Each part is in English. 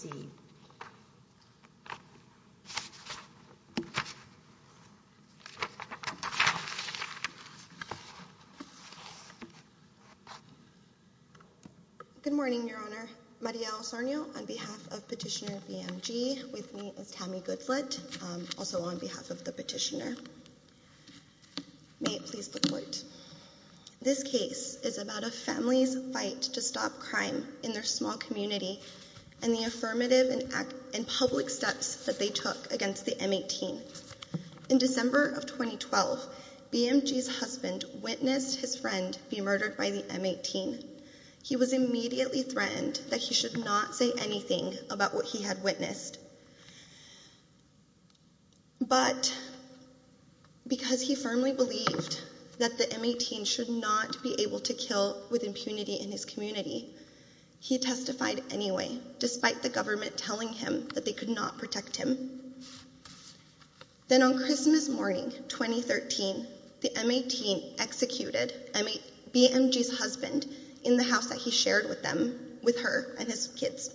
C. Good morning, Your Honor. Maria Osorio on behalf of Petitioner BMG with me is Tammy Goodflett, also on behalf of the petitioner. May it please the court. This case is about a family's fight to stop crime in their small community and the affirmative and public steps that they took against the M-18. In December of 2012, BMG's husband witnessed his friend be murdered by the M-18. He was immediately threatened that he should not say anything about what he had witnessed. But because he firmly believed that the M-18 should not be able to kill with impunity in his community, he testified anyway, despite the government telling him that they could not protect him. Then on Christmas morning, 2013, the M-18 executed BMG's husband in the house that he shared with her and his kids.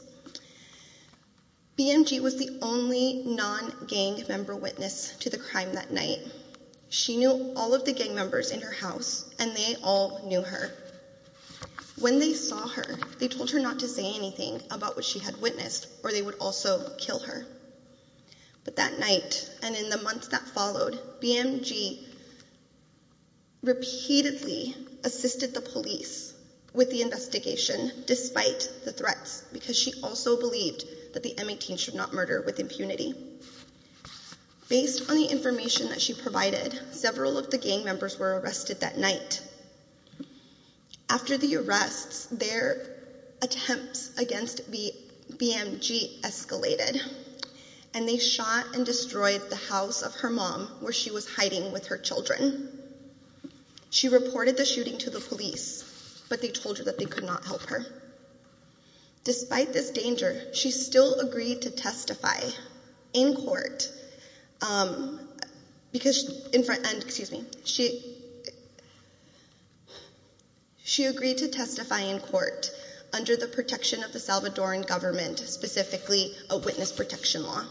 BMG was the only non-gang member witness to the crime that night. She knew all of the gang members in her house and they all knew her. When they saw her, they told her not to say anything about what she had witnessed or they would also kill her. But that night and in the months that followed, BMG repeatedly assisted the police with the investigation despite the threats because she also believed that the M-18 should not murder with impunity. Based on the information that she provided, several of the gang members were arrested that night. After the arrests, their attempts against BMG escalated and they shot and destroyed the house of her mom where she was hiding with her children. She reported the shooting to the police, but they told her that they could not help her. Despite this danger, she still agreed to testify in court. She agreed to testify in court under the protection of the Salvadoran government, specifically a witness protection law.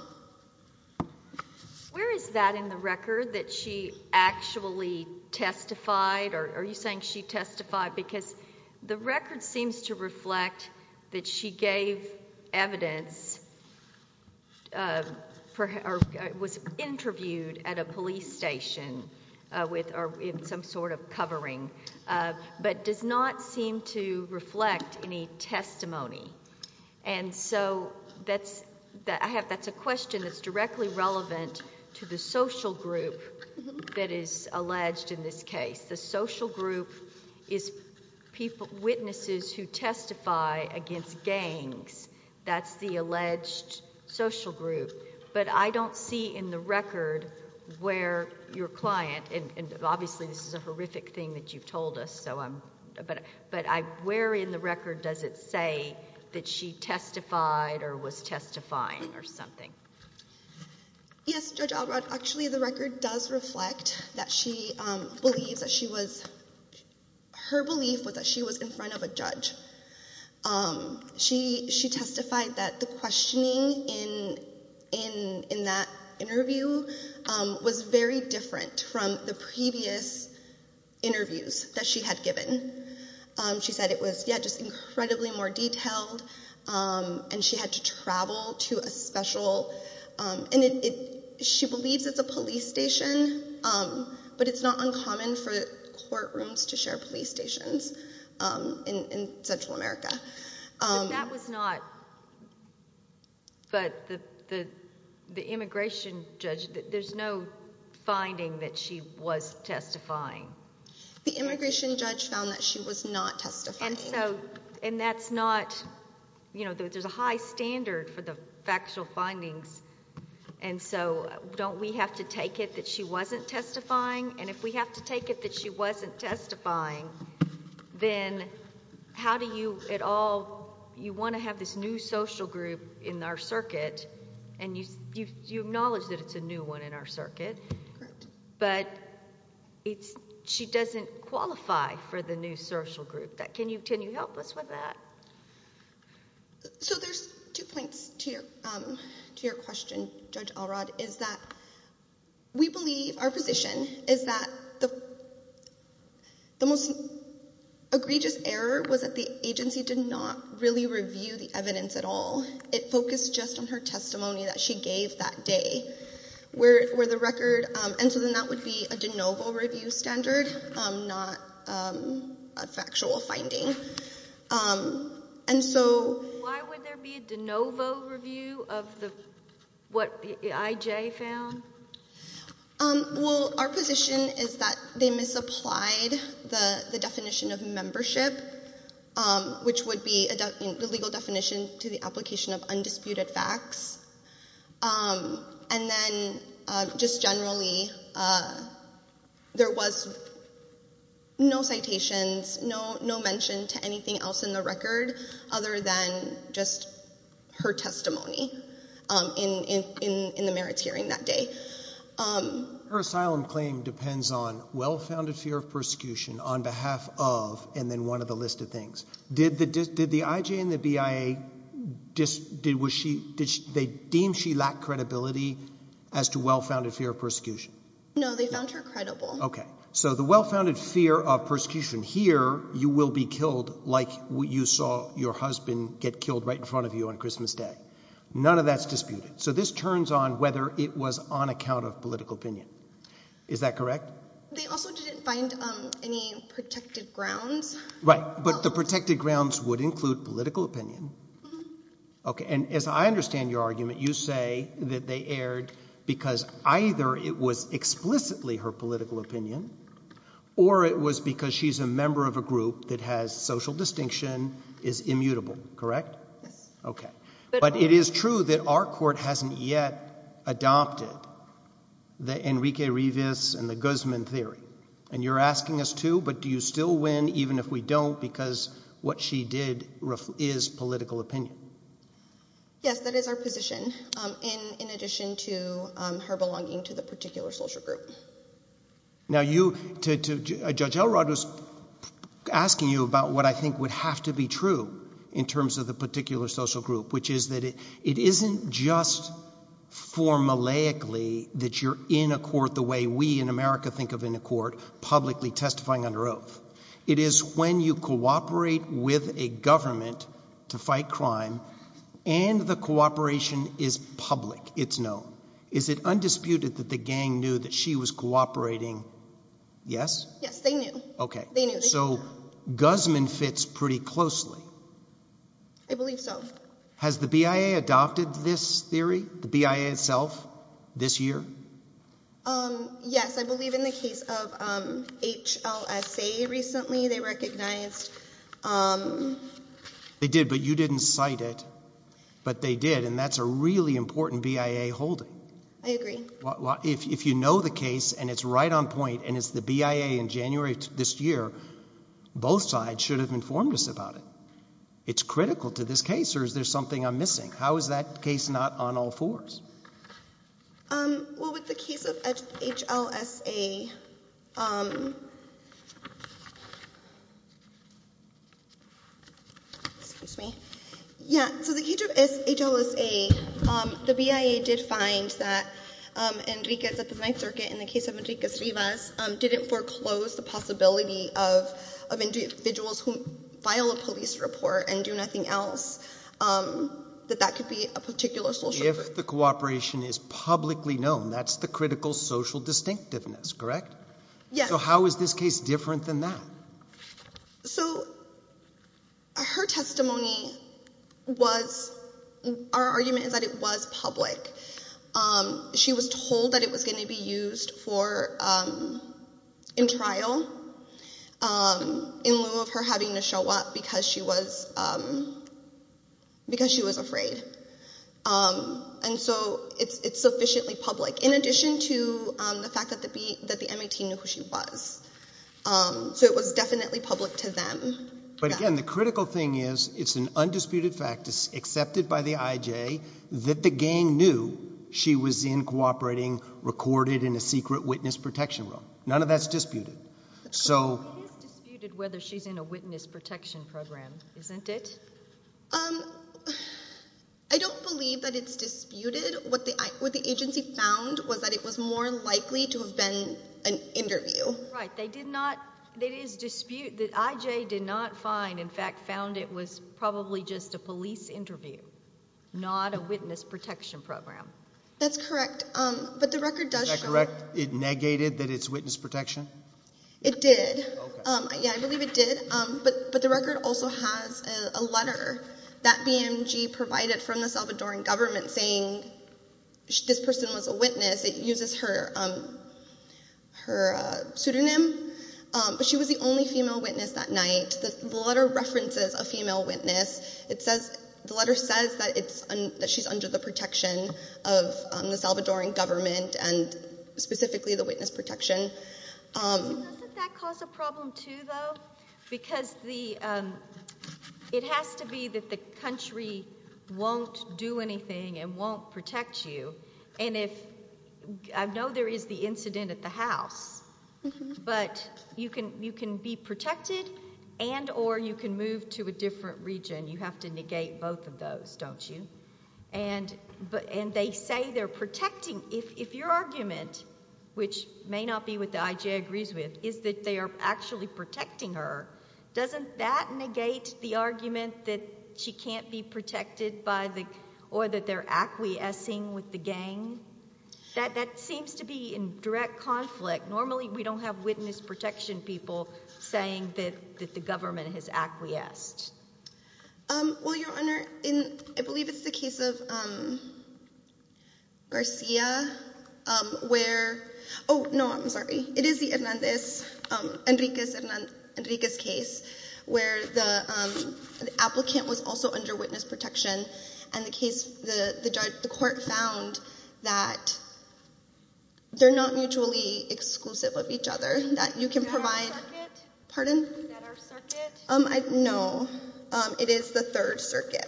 Where is that in the record that she actually testified? Are you saying she testified because the record seems to reflect that she gave evidence or was interviewed at a police station with some sort of covering, but does not seem to reflect any testimony. That's a question that's directly relevant to the social group that is alleged in this case. The social group is people, witnesses who testify against gangs. That's the alleged social group, but I don't see in the record where your client, and obviously this is a horrific thing that you've told us, but where in the record does it say that she testified or was testifying or something? Yes, Judge Albrod, actually the record does reflect that she believes that she was, her belief was that she was in front of a judge. She testified that the questioning in that interview was very different from the previous interviews that she had given. She said it was just incredibly more detailed and she had to travel to a special, and she believes it's a police station, but it's not uncommon for courtrooms to share police stations in Central America. But that was not, but the immigration judge, there's no finding that she was testifying. The immigration judge found that she was not testifying. And that's not, you know, there's a high standard for the factual findings, and so don't we have to take it that she wasn't testifying? And if we have to take it that she wasn't testifying, then how do you at all, you want to have this new social group in our circuit, and you acknowledge that it's a new one in our circuit, but it's, she doesn't qualify for the new social group. Can you help us with that? So there's two points to your question, Judge Alrod, is that we believe, our position is that the most egregious error was that the agency did not really review the evidence at all. It focused just on her testimony that she gave that day, where the record, and so then that would be a de novo review standard, not a factual finding. And so Why would there be a de novo review of what I.J. found? Well, our position is that they misapplied the definition of membership, which would be the legal definition to the application of undisputed facts, and then just generally there was no citations, no mention to anything else in the record other than just her testimony in the merits hearing that day. Her asylum claim depends on well-founded fear of persecution on behalf of, and then one other list of things. Did the I.J. and the BIA, they deem she lacked credibility as to well-founded fear of persecution? No, they found her credible. Okay. So the well-founded fear of persecution here, you will be killed like you saw your husband get killed right in front of you on Christmas Day. None of that's disputed. So this turns on whether it was on account of political opinion. Is that correct? They also didn't find any protected grounds. Right. But the protected grounds would include political opinion. Okay. And as I understand your argument, you say that they erred because either it was explicitly her political opinion or it was because she's a member of a group that has social distinction, is immutable, correct? Yes. Okay. But it is true that our court hasn't yet adopted the Enrique Rivas and the Guzman theory. And you're asking us to, but do you still win even if we don't because what she did is political opinion? Yes, that is our position in addition to her belonging to the particular social group. Now you, Judge Elrod was asking you about what I think would have to be true in terms of the particular social group, which is that it isn't just formulaically that you're in a court the way we in America think of in a court, publicly testifying under oath. It is when you cooperate with a government to fight crime and the cooperation is public, it's known. Is it undisputed that the gang knew that she was cooperating? Yes? Yes, they knew. Okay. So Guzman fits pretty closely. I believe so. Has the BIA adopted this theory, the BIA itself, this year? Yes, I believe in the case of HLSA recently they recognized. They did, but you didn't cite it, but they did and that's a really important BIA holding. I agree. Well, if you know the case and it's right on point and it's the BIA in January this year, both sides should have informed us about it. It's critical to this case or is there something I'm missing? How is that case not on all fours? Well, with the case of HLSA, excuse me, yeah, so the case of HLSA, the BIA did find that Enriquez at the Ninth Circuit in the case of Enriquez-Rivas didn't foreclose the possibility of individuals who file a police report and do nothing else, that that could be a particular social group. If the cooperation is publicly known, that's the critical social distinctiveness, correct? Yes. So how is this case different than that? So her testimony was, our argument is that it was public. She was told that it was going to be used for, in trial, in lieu of her having to show up because she was, because she was afraid. And so it's sufficiently public, in addition to the fact that the MAT knew who she was. So it was definitely public to them. But again, the critical thing is, it's an undisputed fact, accepted by the IJ, that the gang knew she was in cooperating, recorded in a secret witness protection room. None of that's disputed. It is disputed whether she's in a witness protection program, isn't it? I don't believe that it's disputed. What the agency found was that it was more likely to have been an interview. Right. They did not, it is disputed that IJ did not find, in fact, found it was probably just a police interview, not a witness protection program. That's correct. But the record does show. Is that correct? It negated that it's witness protection? It did. Okay. Yeah, I believe it did. But the record also has a letter that BMG provided from the Salvadoran government saying this person was a witness. It uses her pseudonym, but she was the only female witness that night. The letter references a female witness. The letter says that she's under the protection of the Salvadoran government and specifically the witness protection. Doesn't that cause a problem, too, though? Because it has to be that the country won't do anything and won't protect you. And if, I know there is the incident at the house, but you can be protected and or you can move to a different region. You have to negate both of those, don't you? And they say they're protecting. If your argument, which may not be what the IJ agrees with, is that they are actually protecting her, doesn't that negate the argument that she can't be protected or that they're acquiescing with the gang? That seems to be in direct conflict. Normally, we don't have witness protection people saying that the government has acquiesced. Well, Your Honor, I believe it's the case of Garcia where, oh, no, I'm sorry. It is the Enriquez case where the applicant was also under witness protection and the court found that they're not mutually exclusive of each other, that you can provide. Is that our circuit? Pardon? Is that our circuit? No. It is the Third Circuit.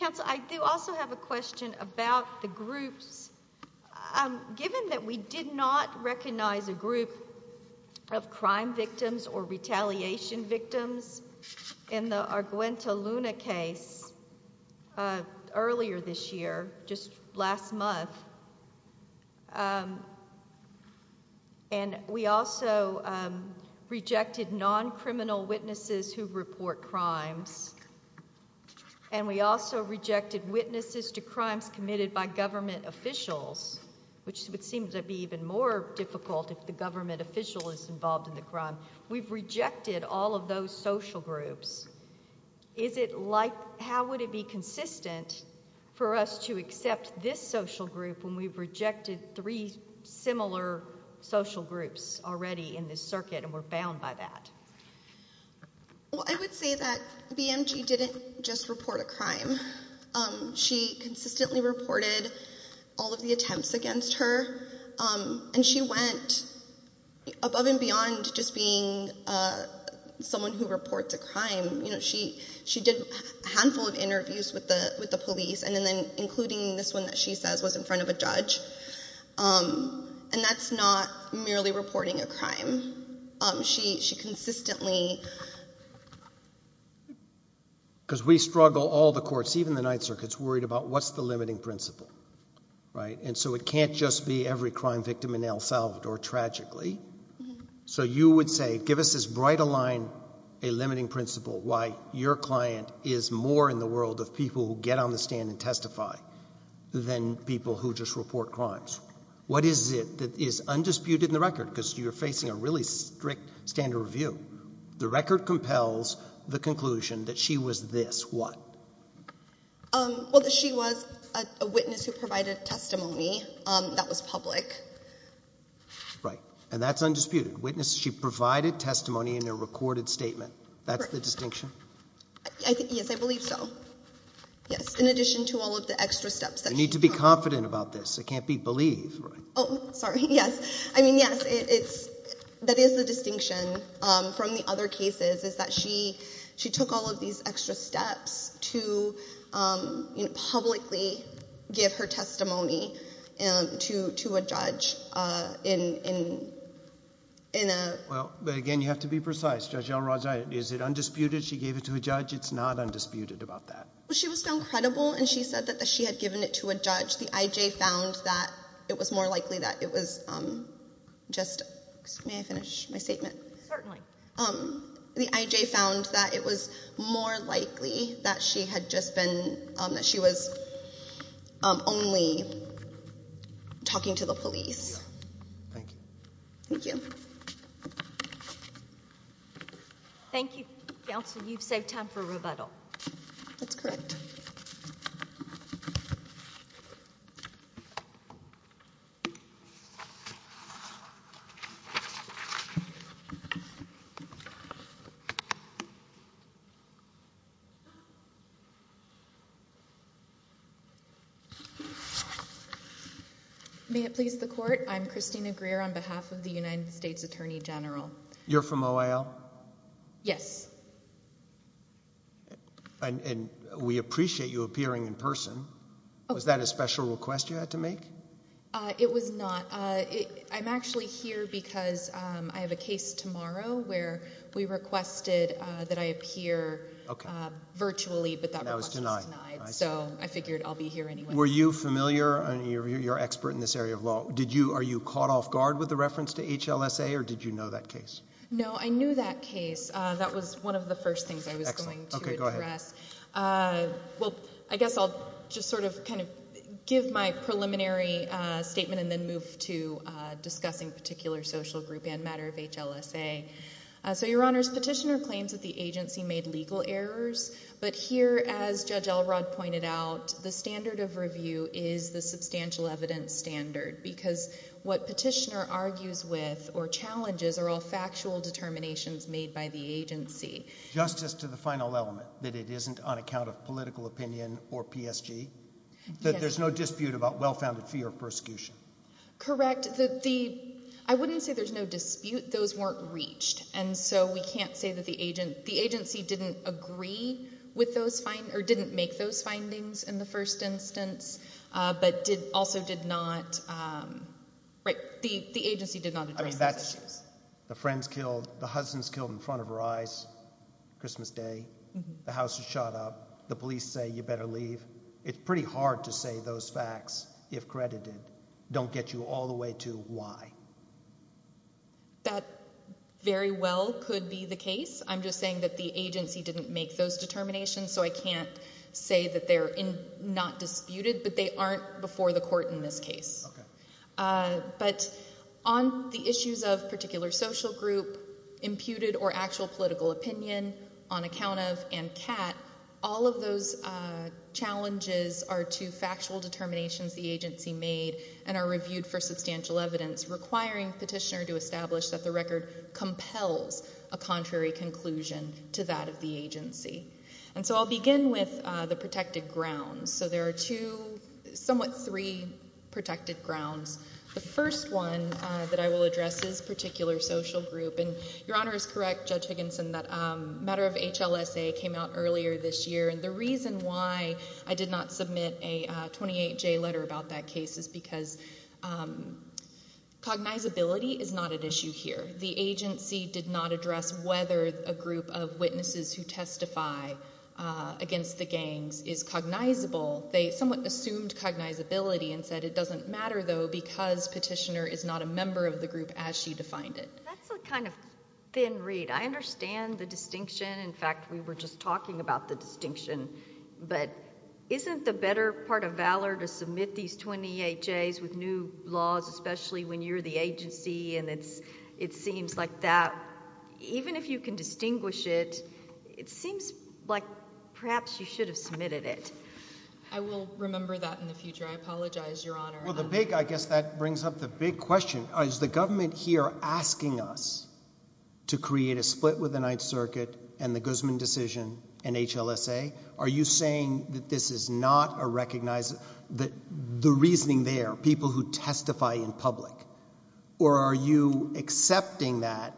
Counsel, I do also have a question about the groups. Given that we did not recognize a group of crime victims or retaliation victims in the Arguenta Luna case earlier this year, just last month, and we also rejected non-criminal witnesses who report crimes, and we also rejected witnesses to crimes committed by government officials, which would seem to be even more difficult if the government official is involved in the crime. We've rejected all of those social groups. Is it like, how would it be consistent for us to accept this social group when we've rejected three similar social groups already in this circuit and we're bound by that? Well, I would say that BMG didn't just report a crime. She consistently reported all of the attempts against her. And she went above and beyond just being someone who reports a crime. She did a handful of interviews with the police, and then including this one that she says was in front of a judge. And that's not merely reporting a crime. She consistently. Because we struggle, all the courts, even the Ninth Circuit, is worried about what's the limiting principle, right? And so it can't just be every crime victim in El Salvador, tragically. So you would say, give us as bright a line, a limiting principle, why your client is more in the world of people who get on the stand and testify than people who just report crimes. What is it that is undisputed in the record? Because you're facing a really strict standard of review. The record compels the conclusion that she was this, what? Well, that she was a witness who provided testimony that was public. Right. And that's undisputed. Witness, she provided testimony in a recorded statement. That's the distinction? Yes, I believe so. Yes, in addition to all of the extra steps that she took. You need to be confident about this. It can't be believe, right? Oh, sorry. Yes. I mean, yes, that is the distinction from the other cases, is that she took all of these extra steps to publicly give her testimony to a judge in a- Well, but again, you have to be precise. Judge Elrodge, is it undisputed she gave it to a judge? It's not undisputed about that. She was found credible. And she said that she had given it to a judge. The IJ found that it was more likely that it was just- may I finish my statement? Certainly. The IJ found that it was more likely that she had just been- that she was only talking to the police. Thank you. Thank you. Thank you, counsel. You've saved time for rebuttal. That's correct. Thank you. May it please the court, I'm Christina Greer on behalf of the United States Attorney General. You're from OIL? Yes. And we appreciate you appearing in person. Was that a special request you had to make? It was not. I'm actually here because I have a case tomorrow where we requested that I appear virtually, but that request was denied. So I figured I'll be here anyway. Were you familiar, you're an expert in this area of law. Are you caught off guard with the reference to HLSA, or did you know that case? No, I knew that case. That was one of the first things I was going to address. Well, I guess I'll just sort of give my preliminary statement and then move to discussing a particular social group and matter of HLSA. So your honors, petitioner claims that the agency made legal errors. But here, as Judge Elrod pointed out, the standard of review is the substantial evidence standard, because what petitioner argues with or challenges are all factual determinations made by the agency. Justice to the final element, that it isn't on account of political opinion or PSG, that there's no dispute about well-founded fear of persecution. Correct. I wouldn't say there's no dispute. Those weren't reached. And so we can't say that the agency didn't agree with those findings, or didn't make those findings in the first instance, but also did not, right, the agency did not address those issues. The friend's killed, the husband's killed in front of her eyes Christmas day, the house is shot up, the police say you better leave. It's pretty hard to say those facts, if credited, don't get you all the way to why. That very well could be the case. I'm just saying that the agency didn't make those determinations. So I can't say that they're not disputed, but they aren't before the court in this case. OK. But on the issues of particular social group, imputed or actual political opinion, on account of, and CAT, all of those challenges are to factual determinations the agency made, and are reviewed for substantial evidence, requiring petitioner to establish that the record compels a contrary conclusion to that of the agency. And so I'll begin with the protected grounds. So there are two, somewhat three, protected grounds. The first one that I will address is particular social group. And your honor is correct, Judge Higginson, that a matter of HLSA came out earlier this year. And the reason why I did not submit a 28-J letter about that case is because cognizability is not at issue here. The agency did not address whether a group of witnesses who testify against the gangs is cognizable. They somewhat assumed cognizability and said it doesn't matter, though, because petitioner is not a member of the group as she defined it. That's a kind of thin read. I understand the distinction. In fact, we were just talking about the distinction. But isn't the better part of valor to submit these 28-Js with new laws, especially when you're the agency and it seems like that? Even if you can distinguish it, it I will remember that in the future. I apologize, your honor. Well, the big, I guess that brings up the big question. Is the government here asking us to create a split with the Ninth Circuit and the Guzman decision and HLSA? Are you saying that this is not a recognized, that the reasoning there, people who testify in public? Or are you accepting that?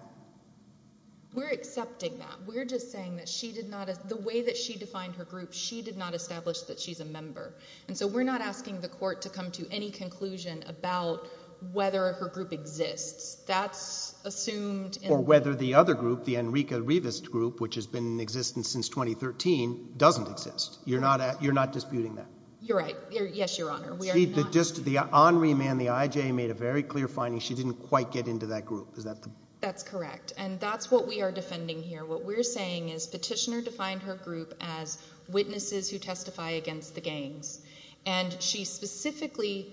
We're accepting that. We're just saying that she did not, the way that she defined her group, she did not establish that she's a member. And so we're not asking the court to come to any conclusion about whether her group exists. That's assumed. Or whether the other group, the Enrica Revist group, which has been in existence since 2013, doesn't exist. You're not disputing that? You're right. Yes, your honor. We are not disputing that. The honoree man, the IJ, made a very clear finding. She didn't quite get into that group. Is that the? That's correct. And that's what we are defending here. What we're saying is Petitioner defined her group as witnesses who testify against the gangs. And she specifically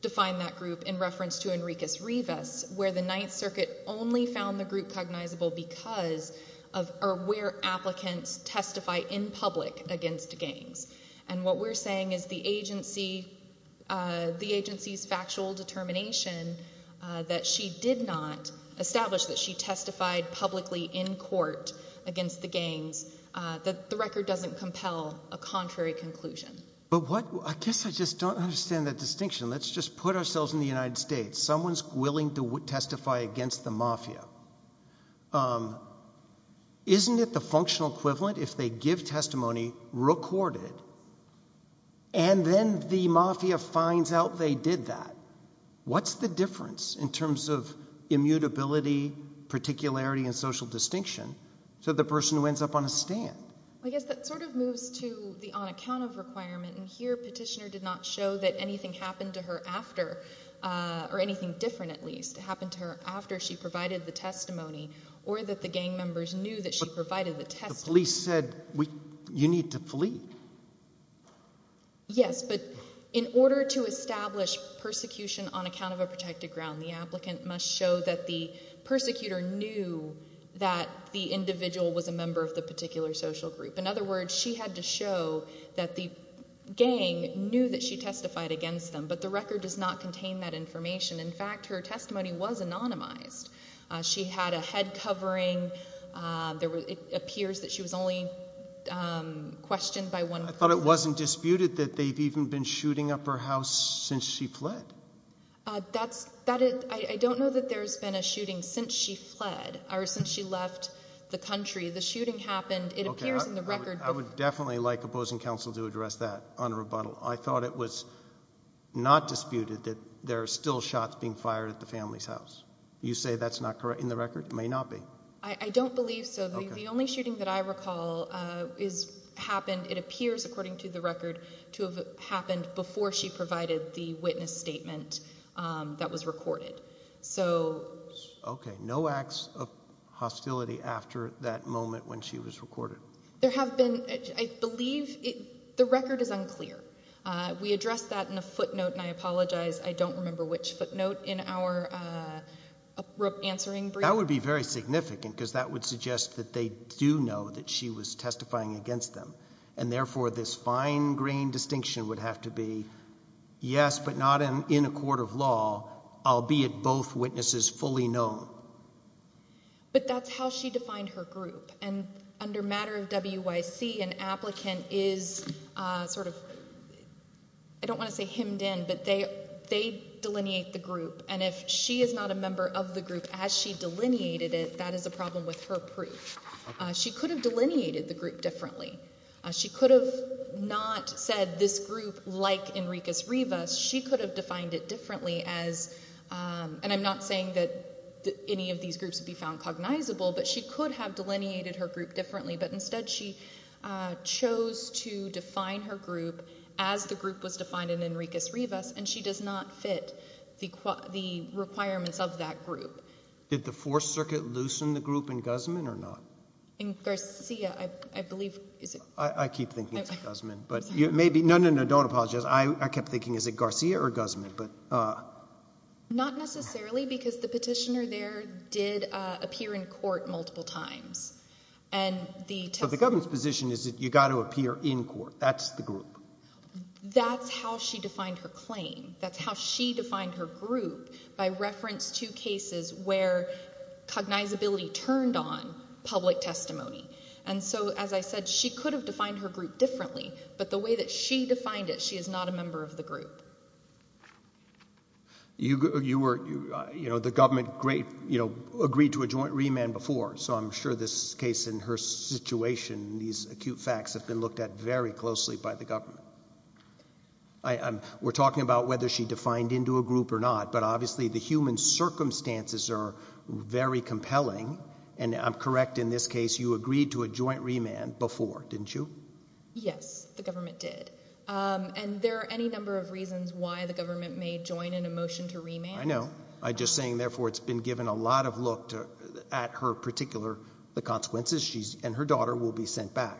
defined that group in reference to Enriquez Revis, where the Ninth Circuit only found the group cognizable because of where applicants testify in public against gangs. And what we're saying is the agency's factual determination that she did not establish that she testified publicly in court against the gangs, that the record doesn't compel a contrary conclusion. But I guess I just don't understand that distinction. Let's just put ourselves in the United States. Someone's willing to testify against the mafia. Isn't it the functional equivalent if they give testimony, record it, and then the mafia finds out they did that? What's the difference in terms of immutability, particularity, and social distinction to the person who ends up on a stand? I guess that sort of moves to the on account of requirement. And here, Petitioner did not show that anything happened to her after, or anything different, at least, happened to her after she provided the testimony, or that the gang members knew that she provided the testimony. The police said, you need to flee. Yes, but in order to establish persecution on account of a protected ground, the applicant must show that the persecutor knew that the individual was a member of the particular social group. In other words, she had to show that the gang knew that she testified against them. But the record does not contain that information. In fact, her testimony was anonymized. She had a head covering. It appears that she was only questioned by one person. I thought it wasn't disputed that they've even been shooting up her house since she fled. That's, I don't know that there's been a shooting since she fled, or since she left the country. The shooting happened, it appears in the record. I would definitely like opposing counsel to address that on a rebuttal. I thought it was not disputed that there are still shots being fired at the family's house. You say that's not correct in the record? It may not be. I don't believe so. The only shooting that I recall happened, it appears, according to the record, to have happened before she provided the witness statement that was recorded. OK, no acts of hostility after that moment when she was recorded. There have been, I believe, the record is unclear. We addressed that in a footnote, and I apologize, I don't remember which footnote in our answering brief. That would be very significant, because that would suggest that they do know that she was testifying against them. And therefore, this fine-grained distinction would have to be, yes, but not in a court of law, albeit both witnesses fully known. But that's how she defined her group. And under matter of WYC, an applicant is sort of, I don't want to say hemmed in, but they delineate the group. And if she is not a member of the group as she delineated it, that is a problem with her proof. She could have delineated the group differently. She could have not said this group like Enriquez-Rivas. She could have defined it differently as, and I'm not saying that any of these groups would be found cognizable, but she could have delineated her group differently. But instead, she chose to define her group as the group was defined in Enriquez-Rivas, and she does not fit the requirements of that group. Did the Fourth Circuit loosen the group in Guzman or not? In Garcia, I believe. I keep thinking it's Guzman. But maybe, no, no, no, don't apologize. I kept thinking, is it Garcia or Guzman? Not necessarily, because the petitioner there did appear in court multiple times. And the testimony. So the government's position is that you got to appear in court. That's the group. That's how she defined her claim. That's how she defined her group by reference to cases where cognizability turned on public testimony. And so, as I said, she could have defined her group differently. But the way that she defined it, she is not a member of the group. The government agreed to a joint remand before. So I'm sure this case and her situation, these acute facts, have been looked at very closely by the government. We're talking about whether she defined into a group or not. But obviously, the human circumstances are very compelling. And I'm correct in this case. You agreed to a joint remand before, didn't you? Yes, the government did. And there are any number of reasons why the government may join in a motion to remand. I know. I'm just saying, therefore, it's been given a lot of look at her particular consequences. And her daughter will be sent back.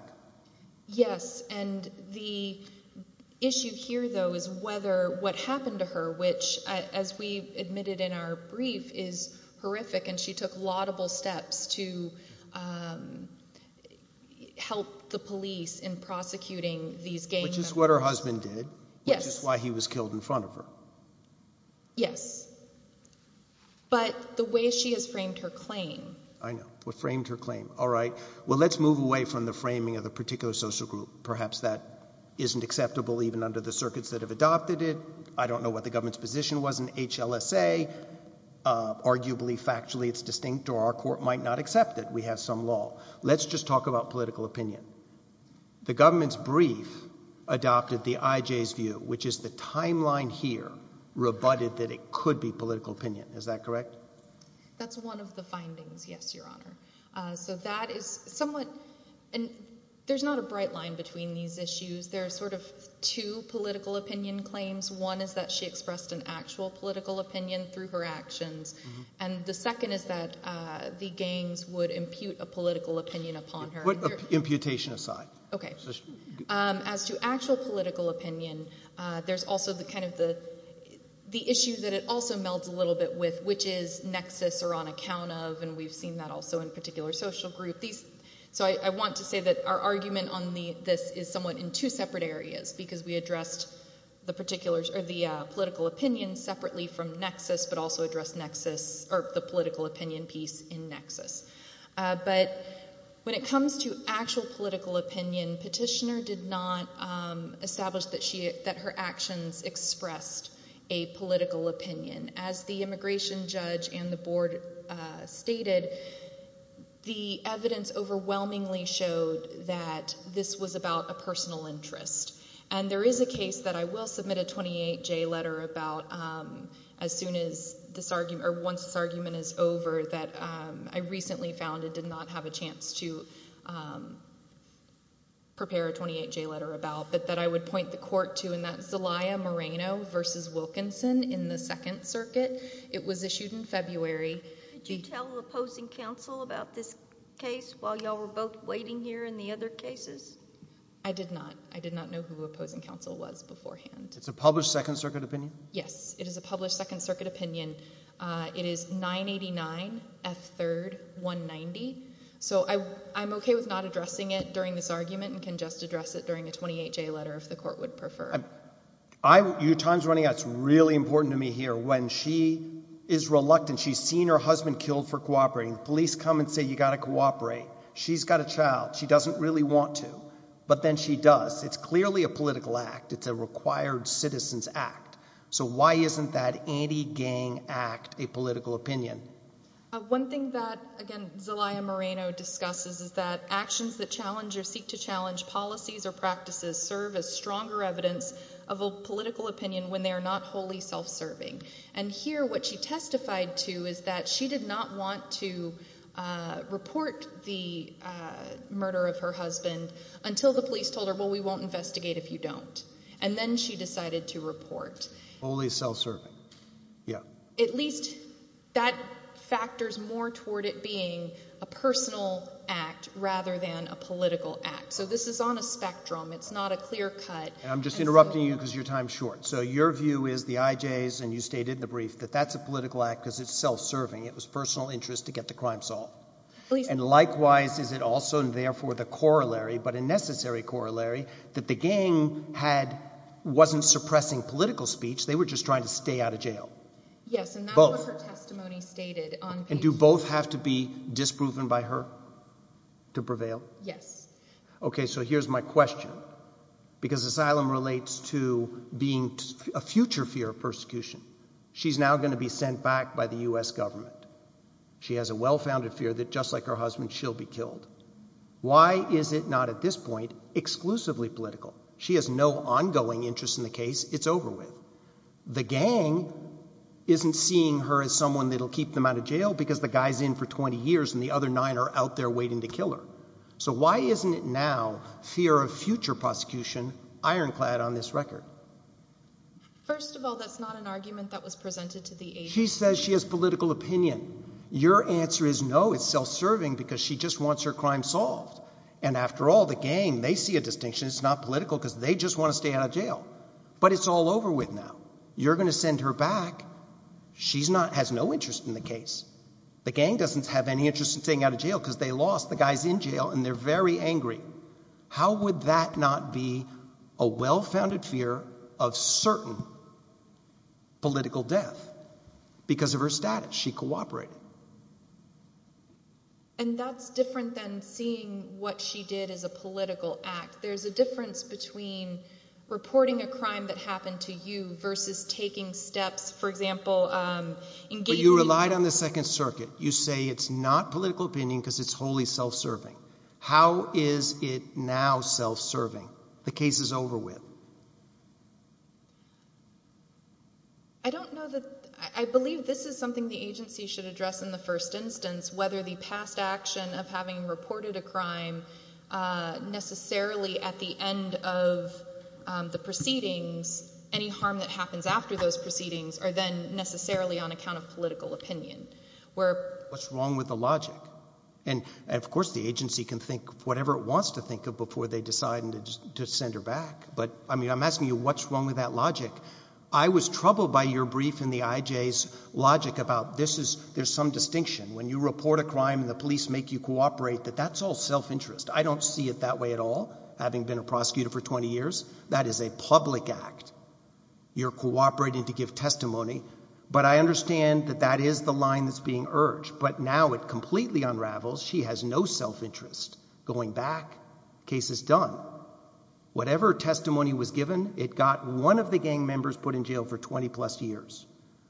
Yes. And the issue here, though, is whether what happened to her, which, as we admitted in our brief, is horrific. And she took laudable steps to help the police in prosecuting these gang members. Which is what her husband did, which is why he was killed in front of her. Yes. But the way she has framed her claim. I know, what framed her claim. All right, well, let's move away from the framing of the particular social group. Perhaps that isn't acceptable, even under the circuits that have adopted it. I don't know what the government's position was in HLSA. Arguably, factually, it's distinct, or our court might not accept it. We have some law. Let's just talk about political opinion. The government's brief adopted the IJ's view, which is the timeline here, rebutted that it could be political opinion. Is that correct? That's one of the findings, yes, Your Honor. So that is somewhat, and there's not a bright line between these issues. There are sort of two political opinion claims. One is that she expressed an actual political opinion through her actions. And the second is that the gangs would impute a political opinion upon her. Put imputation aside. OK. As to actual political opinion, there's also the issue that it also melds a little bit with, which is nexus or on account of, and we've seen that also in particular social group. So I want to say that our argument on this is somewhat in two separate areas, because we addressed the political opinion separately from nexus, but also addressed the political opinion piece in nexus. But when it comes to actual political opinion, Petitioner did not establish that her actions expressed a political opinion. As the immigration judge and the board stated, the evidence overwhelmingly showed that this was about a personal interest. And there is a case that I will submit a 28-J letter about as soon as this argument, or once this argument is over, that I recently found and did not have a chance to prepare a 28-J letter about, but that I would point the court to, and that's Zelaya Moreno versus Wilkinson in the Second Circuit. It was issued in February. Did you tell opposing counsel about this case while you were both waiting here in the other cases? I did not. I did not know who opposing counsel was beforehand. It's a published Second Circuit opinion? Yes, it is a published Second Circuit opinion. It is 989 F3rd 190. So I'm OK with not addressing it during this argument, and can just address it during a 28-J letter if the court would prefer. Your time's running out. It's really important to me here. When she is reluctant, she's seen her husband killed for cooperating, police come and say, you've got to cooperate. She's got a child. She doesn't really want to, but then she does. It's clearly a political act. It's a required citizen's act. So why isn't that anti-gang act a political opinion? One thing that, again, Zelaya Moreno discusses is that actions that challenge or seek to challenge policies or practices serve as stronger evidence of a political opinion when they are not wholly self-serving. And here, what she testified to is that she did not want to report the murder of her husband until the police told her, well, we won't investigate if you don't. And then she decided to report. Wholly self-serving, yeah. At least that factors more toward it being a personal act rather than a political act. So this is on a spectrum. It's not a clear cut. I'm just interrupting you because your time's short. So your view is the IJs, and you stated in the brief, that that's a political act because it's self-serving. It was personal interest to get the crime solved. And likewise, is it also, and therefore the corollary, but a necessary corollary, that the gang wasn't suppressing political speech. They were just trying to stay out of jail. Yes, and that's what her testimony stated on page two. And do both have to be disproven by her to prevail? Yes. OK, so here's my question. Because asylum relates to being a future fear of persecution. She's now going to be sent back by the US government. She has a well-founded fear that just like her husband, she'll be killed. Why is it not at this point exclusively political? She has no ongoing interest in the case. It's over with. The gang isn't seeing her as someone that'll keep them out of jail because the guy's in for 20 years, and the other nine are out there waiting to kill her. So why isn't it now fear of future prosecution ironclad on this record? First of all, that's not an argument that was presented to the agency. She says she has political opinion. Your answer is no, it's self-serving because she just wants her crime solved. And after all, the gang, they see a distinction. It's not political because they just want to stay out of jail. But it's all over with now. You're going to send her back. She has no interest in the case. The gang doesn't have any interest in staying out of jail because they lost the guys in jail, and they're very angry. How would that not be a well-founded fear of certain political death? Because of her status, she cooperated. And that's different than seeing what she did as a political act. There's a difference between reporting a crime that happened to you versus taking steps, for example, engaging in crime. But you relied on the Second Circuit. You say it's not political opinion because it's wholly self-serving. How is it now self-serving? The case is over with. I don't know that I believe this is something the agency should address in the first instance, whether the past action of having reported a crime necessarily at the end of the proceedings, any harm that happens after those proceedings, or then necessarily on account of political opinion, where... What's wrong with the logic? And, of course, the agency can think whatever it wants to think of before they decide to send her back. But, I mean, I'm asking you, what's wrong with that logic? I was troubled by your brief in the IJ's logic about there's some distinction. When you report a crime and the police make you cooperate, that that's all self-interest. I don't see it that way at all, having been a prosecutor for 20 years. That is a public act. You're cooperating to give testimony. But I understand that that is the line that's being urged. But now it completely unravels. She has no self-interest. Going back, case is done. Whatever testimony was given, it got one of the gang members put in jail for 20-plus years.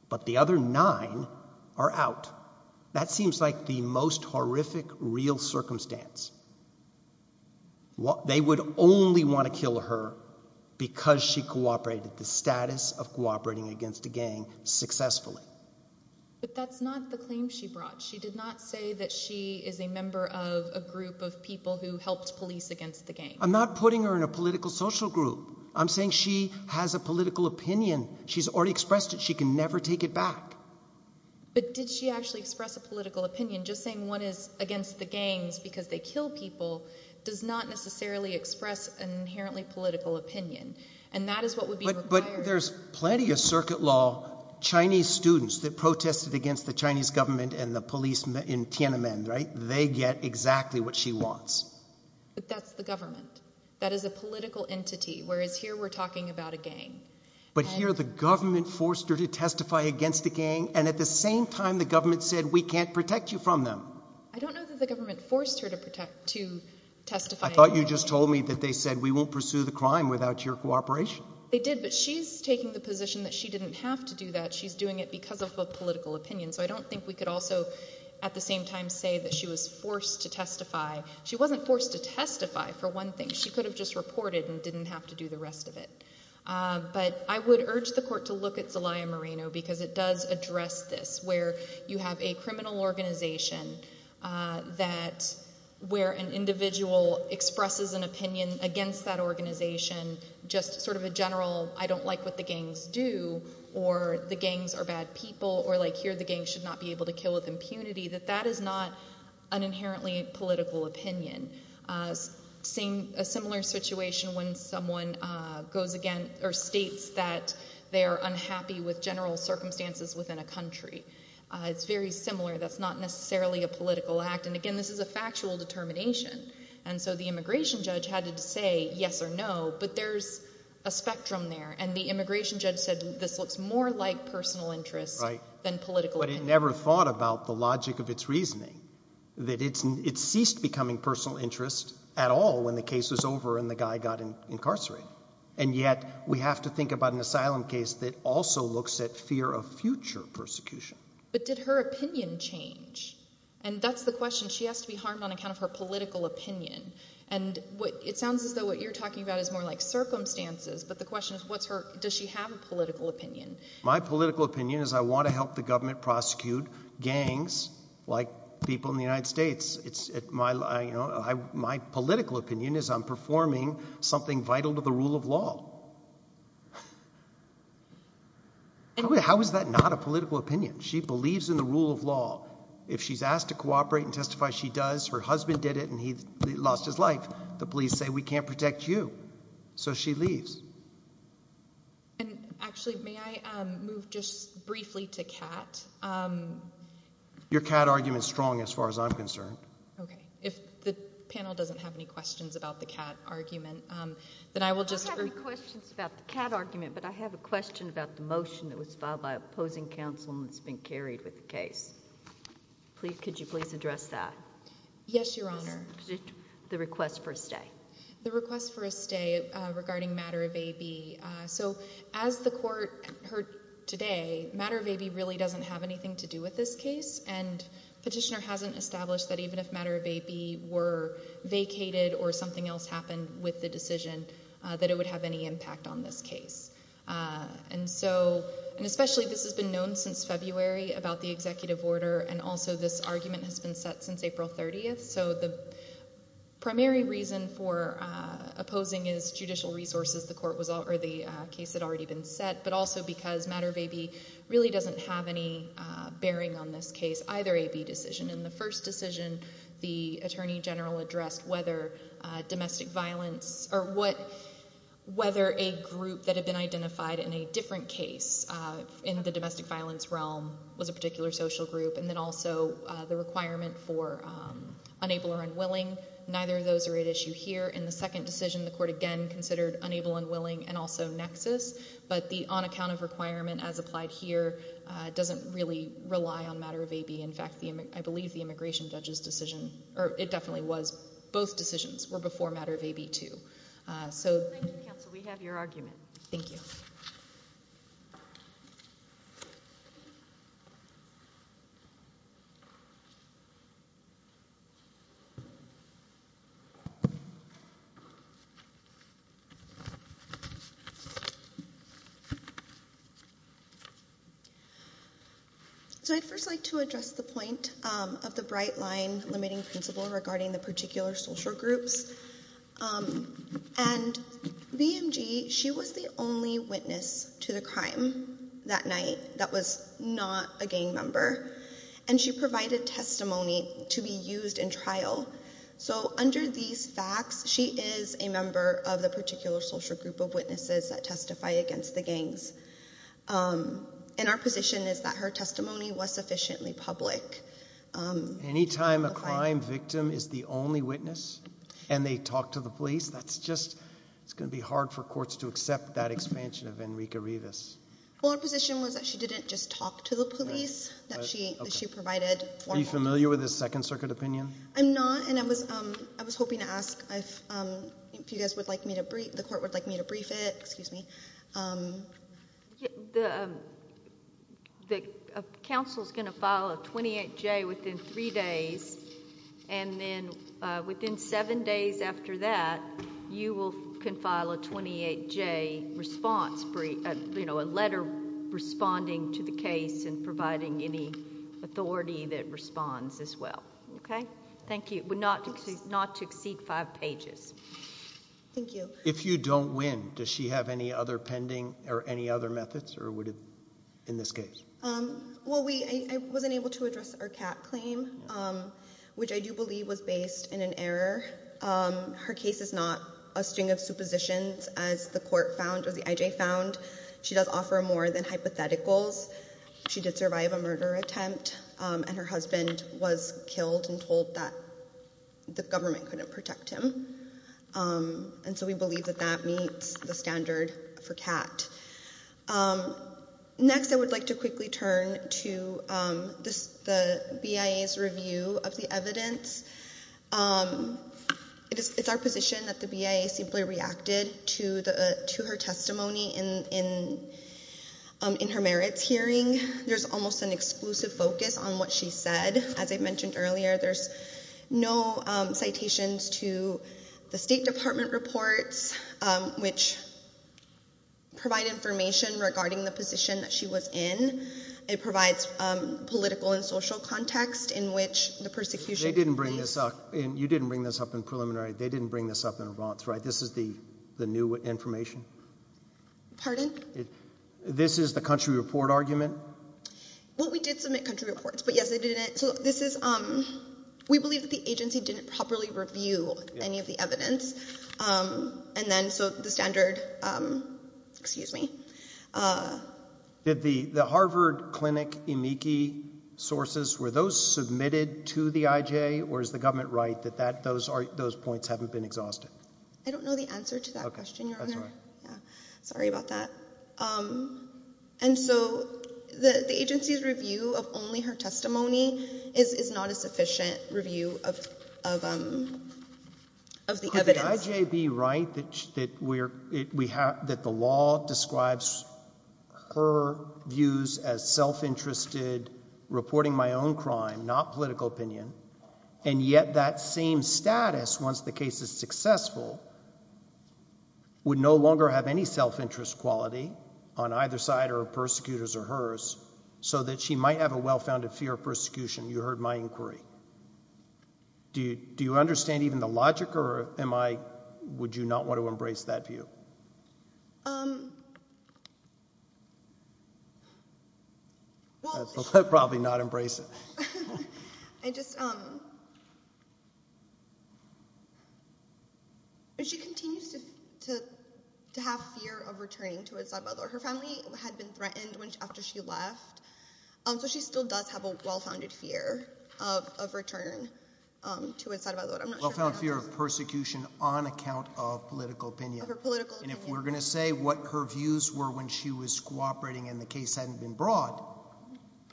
But the other nine are out. That seems like the most horrific real circumstance. They would only want to kill her because she cooperated, the status of cooperating against a gang, successfully. But that's not the claim she brought. She did not say that she is a member of a group of people who helped police against the gang. I'm not putting her in a political social group. I'm saying she has a political opinion. She's already expressed it. She can never take it back. But did she actually express a political opinion? Just saying one is against the gangs because they kill people does not necessarily express an inherently political opinion. And that is what would be required. There's plenty of circuit law Chinese students that protested against the Chinese government and the police in Tiananmen, right? They get exactly what she wants. But that's the government. That is a political entity, whereas here we're talking about a gang. But here the government forced her to testify against a gang, and at the same time, the government said, we can't protect you from them. I don't know that the government forced her to testify against the gang. I thought you just told me that they said, we won't pursue the crime without your cooperation. They did, but she's taking the position that she didn't have to do that. She's doing it because of a political opinion. So I don't think we could also at the same time say that she was forced to testify. She wasn't forced to testify for one thing. She could have just reported and didn't have to do the rest of it. But I would urge the court to look at Zelaya Moreno because it does address this, where you have a criminal organization where an individual expresses an opinion against that organization, just sort of a general, I don't like what the gangs do, or the gangs are bad people, or like here the gangs should not be able to kill with impunity, that that is not an inherently political opinion. Seeing a similar situation when someone goes again, or states that they are unhappy with general circumstances within a country. It's very similar. That's not necessarily a political act. And again, this is a factual determination. And so the immigration judge had to say yes or no, but there's a spectrum there. And the immigration judge said this looks more like personal interest than political opinion. But it never thought about the logic of its reasoning, that it ceased becoming personal interest at all when the case was over and the guy got incarcerated. And yet we have to think about an asylum case that also looks at fear of future persecution. But did her opinion change? And that's the question. She has to be harmed on account of her political opinion. And it sounds as though what you're talking about is more like circumstances. But the question is, does she have a political opinion? My political opinion is I want to help the government prosecute gangs like people in the United States. My political opinion is I'm performing something vital to the rule of law. How is that not a political opinion? She believes in the rule of law. If she's asked to cooperate and testify, she does. Her husband did it and he lost his life. The police say, we can't protect you. So she leaves. And actually, may I move just briefly to Catt? Your Catt argument's strong as far as I'm concerned. Okay, if the panel doesn't have any questions about the Catt argument, then I will just. I don't have any questions about the Catt argument, but I have a question about the motion that was filed by opposing counsel and that's been carried with the case. Could you please address that? Yes, Your Honor. The request for a stay. The request for a stay regarding Matter of A.B. So as the court heard today, Matter of A.B. really doesn't have anything to do with this case and Petitioner hasn't established that even if Matter of A.B. were vacated or something else happened with the decision that it would have any impact on this case. And so, and especially this has been known since February about the executive order and also this argument has been set since April 30th. So the primary reason for opposing is judicial resources. The court was, or the case had already been set, but also because Matter of A.B. really doesn't have any bearing on this case, either A.B. decision. In the first decision, the Attorney General addressed whether domestic violence, or whether a group that had been identified in a different case in the domestic violence realm was a particular social group, and then also the requirement for unable or unwilling. Neither of those are at issue here. In the second decision, the court again considered unable, unwilling, and also nexus, but the on-account of requirement as applied here doesn't really rely on Matter of A.B. In fact, I believe the immigration judge's decision, or it definitely was, both decisions were before Matter of A.B. too. So. Thank you, counsel, we have your argument. Thank you. Thank you. So I'd first like to address the point of the bright line limiting principle regarding the particular social groups. And BMG, she was the only witness to the crime that night that was not a gang member. And she provided testimony to be used in trial. So under these facts, she is a member of the particular social group of witnesses that testify against the gangs. And our position is that her testimony was sufficiently public. Anytime a crime victim is the only witness, and they talk to the police, that's just, it's gonna be hard for courts to accept that expansion of Enrique Rivas. Well, our position was that she didn't just talk to the police, that she provided formal. Are you familiar with the Second Circuit opinion? I'm not, and I was hoping to ask if you guys would like me to brief, the court would like me to brief it, excuse me. The counsel's gonna file a 28-J within three days, and then within seven days after that, you will confile a 28-J response brief, you know, a letter responding to the case and providing any authority that responds as well, okay? Thank you, but not to exceed five pages. Thank you. If you don't win, does she have any other pending, or any other methods, or would it, in this case? Well, I wasn't able to address her cat claim, which I do believe was based in an error. Her case is not a string of suppositions, as the court found, or the IJ found. She does offer more than hypotheticals. She did survive a murder attempt, and her husband was killed and told that the government couldn't protect him. And so we believe that that meets the standard for cat. Next, I would like to quickly turn to the BIA's review of the evidence. It's our position that the BIA simply reacted to her testimony in her merits hearing. There's almost an exclusive focus on what she said. As I mentioned earlier, there's no citations to the State Department reports, which provide information regarding the position that she was in. It provides political and social context in which the persecution. They didn't bring this up, and you didn't bring this up in preliminary. They didn't bring this up in advance, right? This is the new information? Pardon? This is the country report argument? Well, we did submit country reports, but yes, they did it. So this is, we believe that the agency didn't properly review any of the evidence. And then, so the standard, excuse me. Did the Harvard Clinic Eniki sources, were those submitted to the IJ, or is the government right that those points haven't been exhausted? I don't know the answer to that question, Your Honor. Sorry about that. And so, the agency's review of only her testimony is not a sufficient review of the evidence. Could IJ be right that the law describes her views as self-interested, reporting my own crime, not political opinion, and yet that same status, once the case is successful, would no longer have any self-interest quality on either side, or her persecutors or hers, so that she might have a well-founded fear of persecution? You heard my inquiry. Do you understand even the logic, or would you not want to embrace that view? I'd probably not embrace it. I just, she continues to have fear of returning to a side by side. Her family had been threatened after she left, so she still does have a well-founded fear of return to a side by side. Well-found fear of persecution on account of political opinion. Of her political opinion. And if we're gonna say what her views were when she was cooperating and the case hadn't been brought,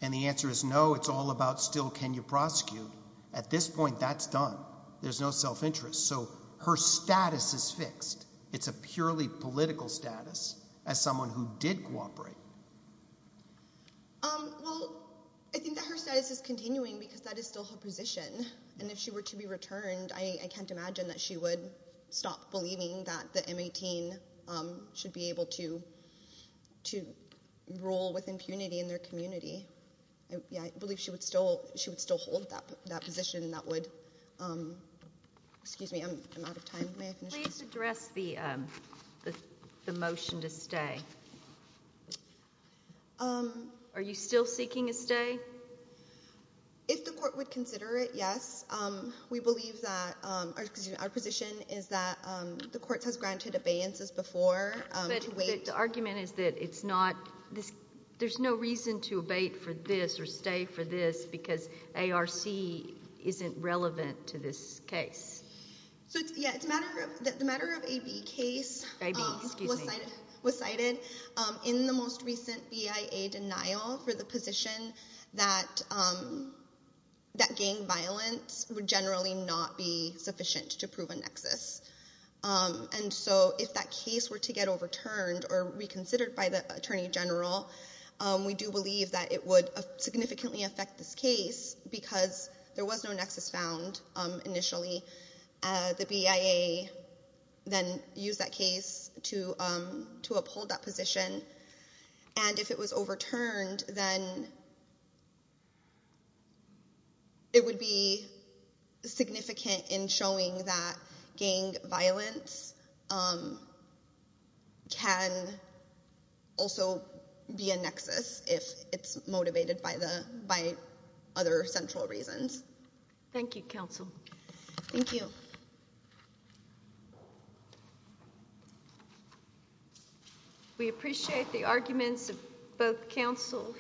and the answer is no, it's all about still, can you prosecute? At this point, that's done. There's no self-interest. So her status is fixed. It's a purely political status, as someone who did cooperate. Well, I think that her status is continuing because that is still her position. And if she were to be returned, I can't imagine that she would stop believing that the M18 should be able to rule with impunity in their community. Yeah, I believe she would still hold that position that would, excuse me, I'm out of time. May I finish? Please address the motion to stay. Are you still seeking a stay? If the court would consider it, yes. We believe that, our position is that the court has granted abeyances before. But the argument is that it's not, there's no reason to abate for this or stay for this because ARC isn't relevant to this case. So yeah, the matter of AB case was cited in the most recent BIA denial for the position that gang violence would generally not be sufficient to prove a nexus. And so if that case were to get overturned or reconsidered by the Attorney General, we do believe that it would significantly affect this case because there was no nexus found initially. The BIA then used that case to uphold that position. And if it was overturned, then it would be significant in showing that gang violence can also be a nexus if it's motivated by other central reasons. Thank you, counsel. Thank you. We appreciate the arguments of both counsel here.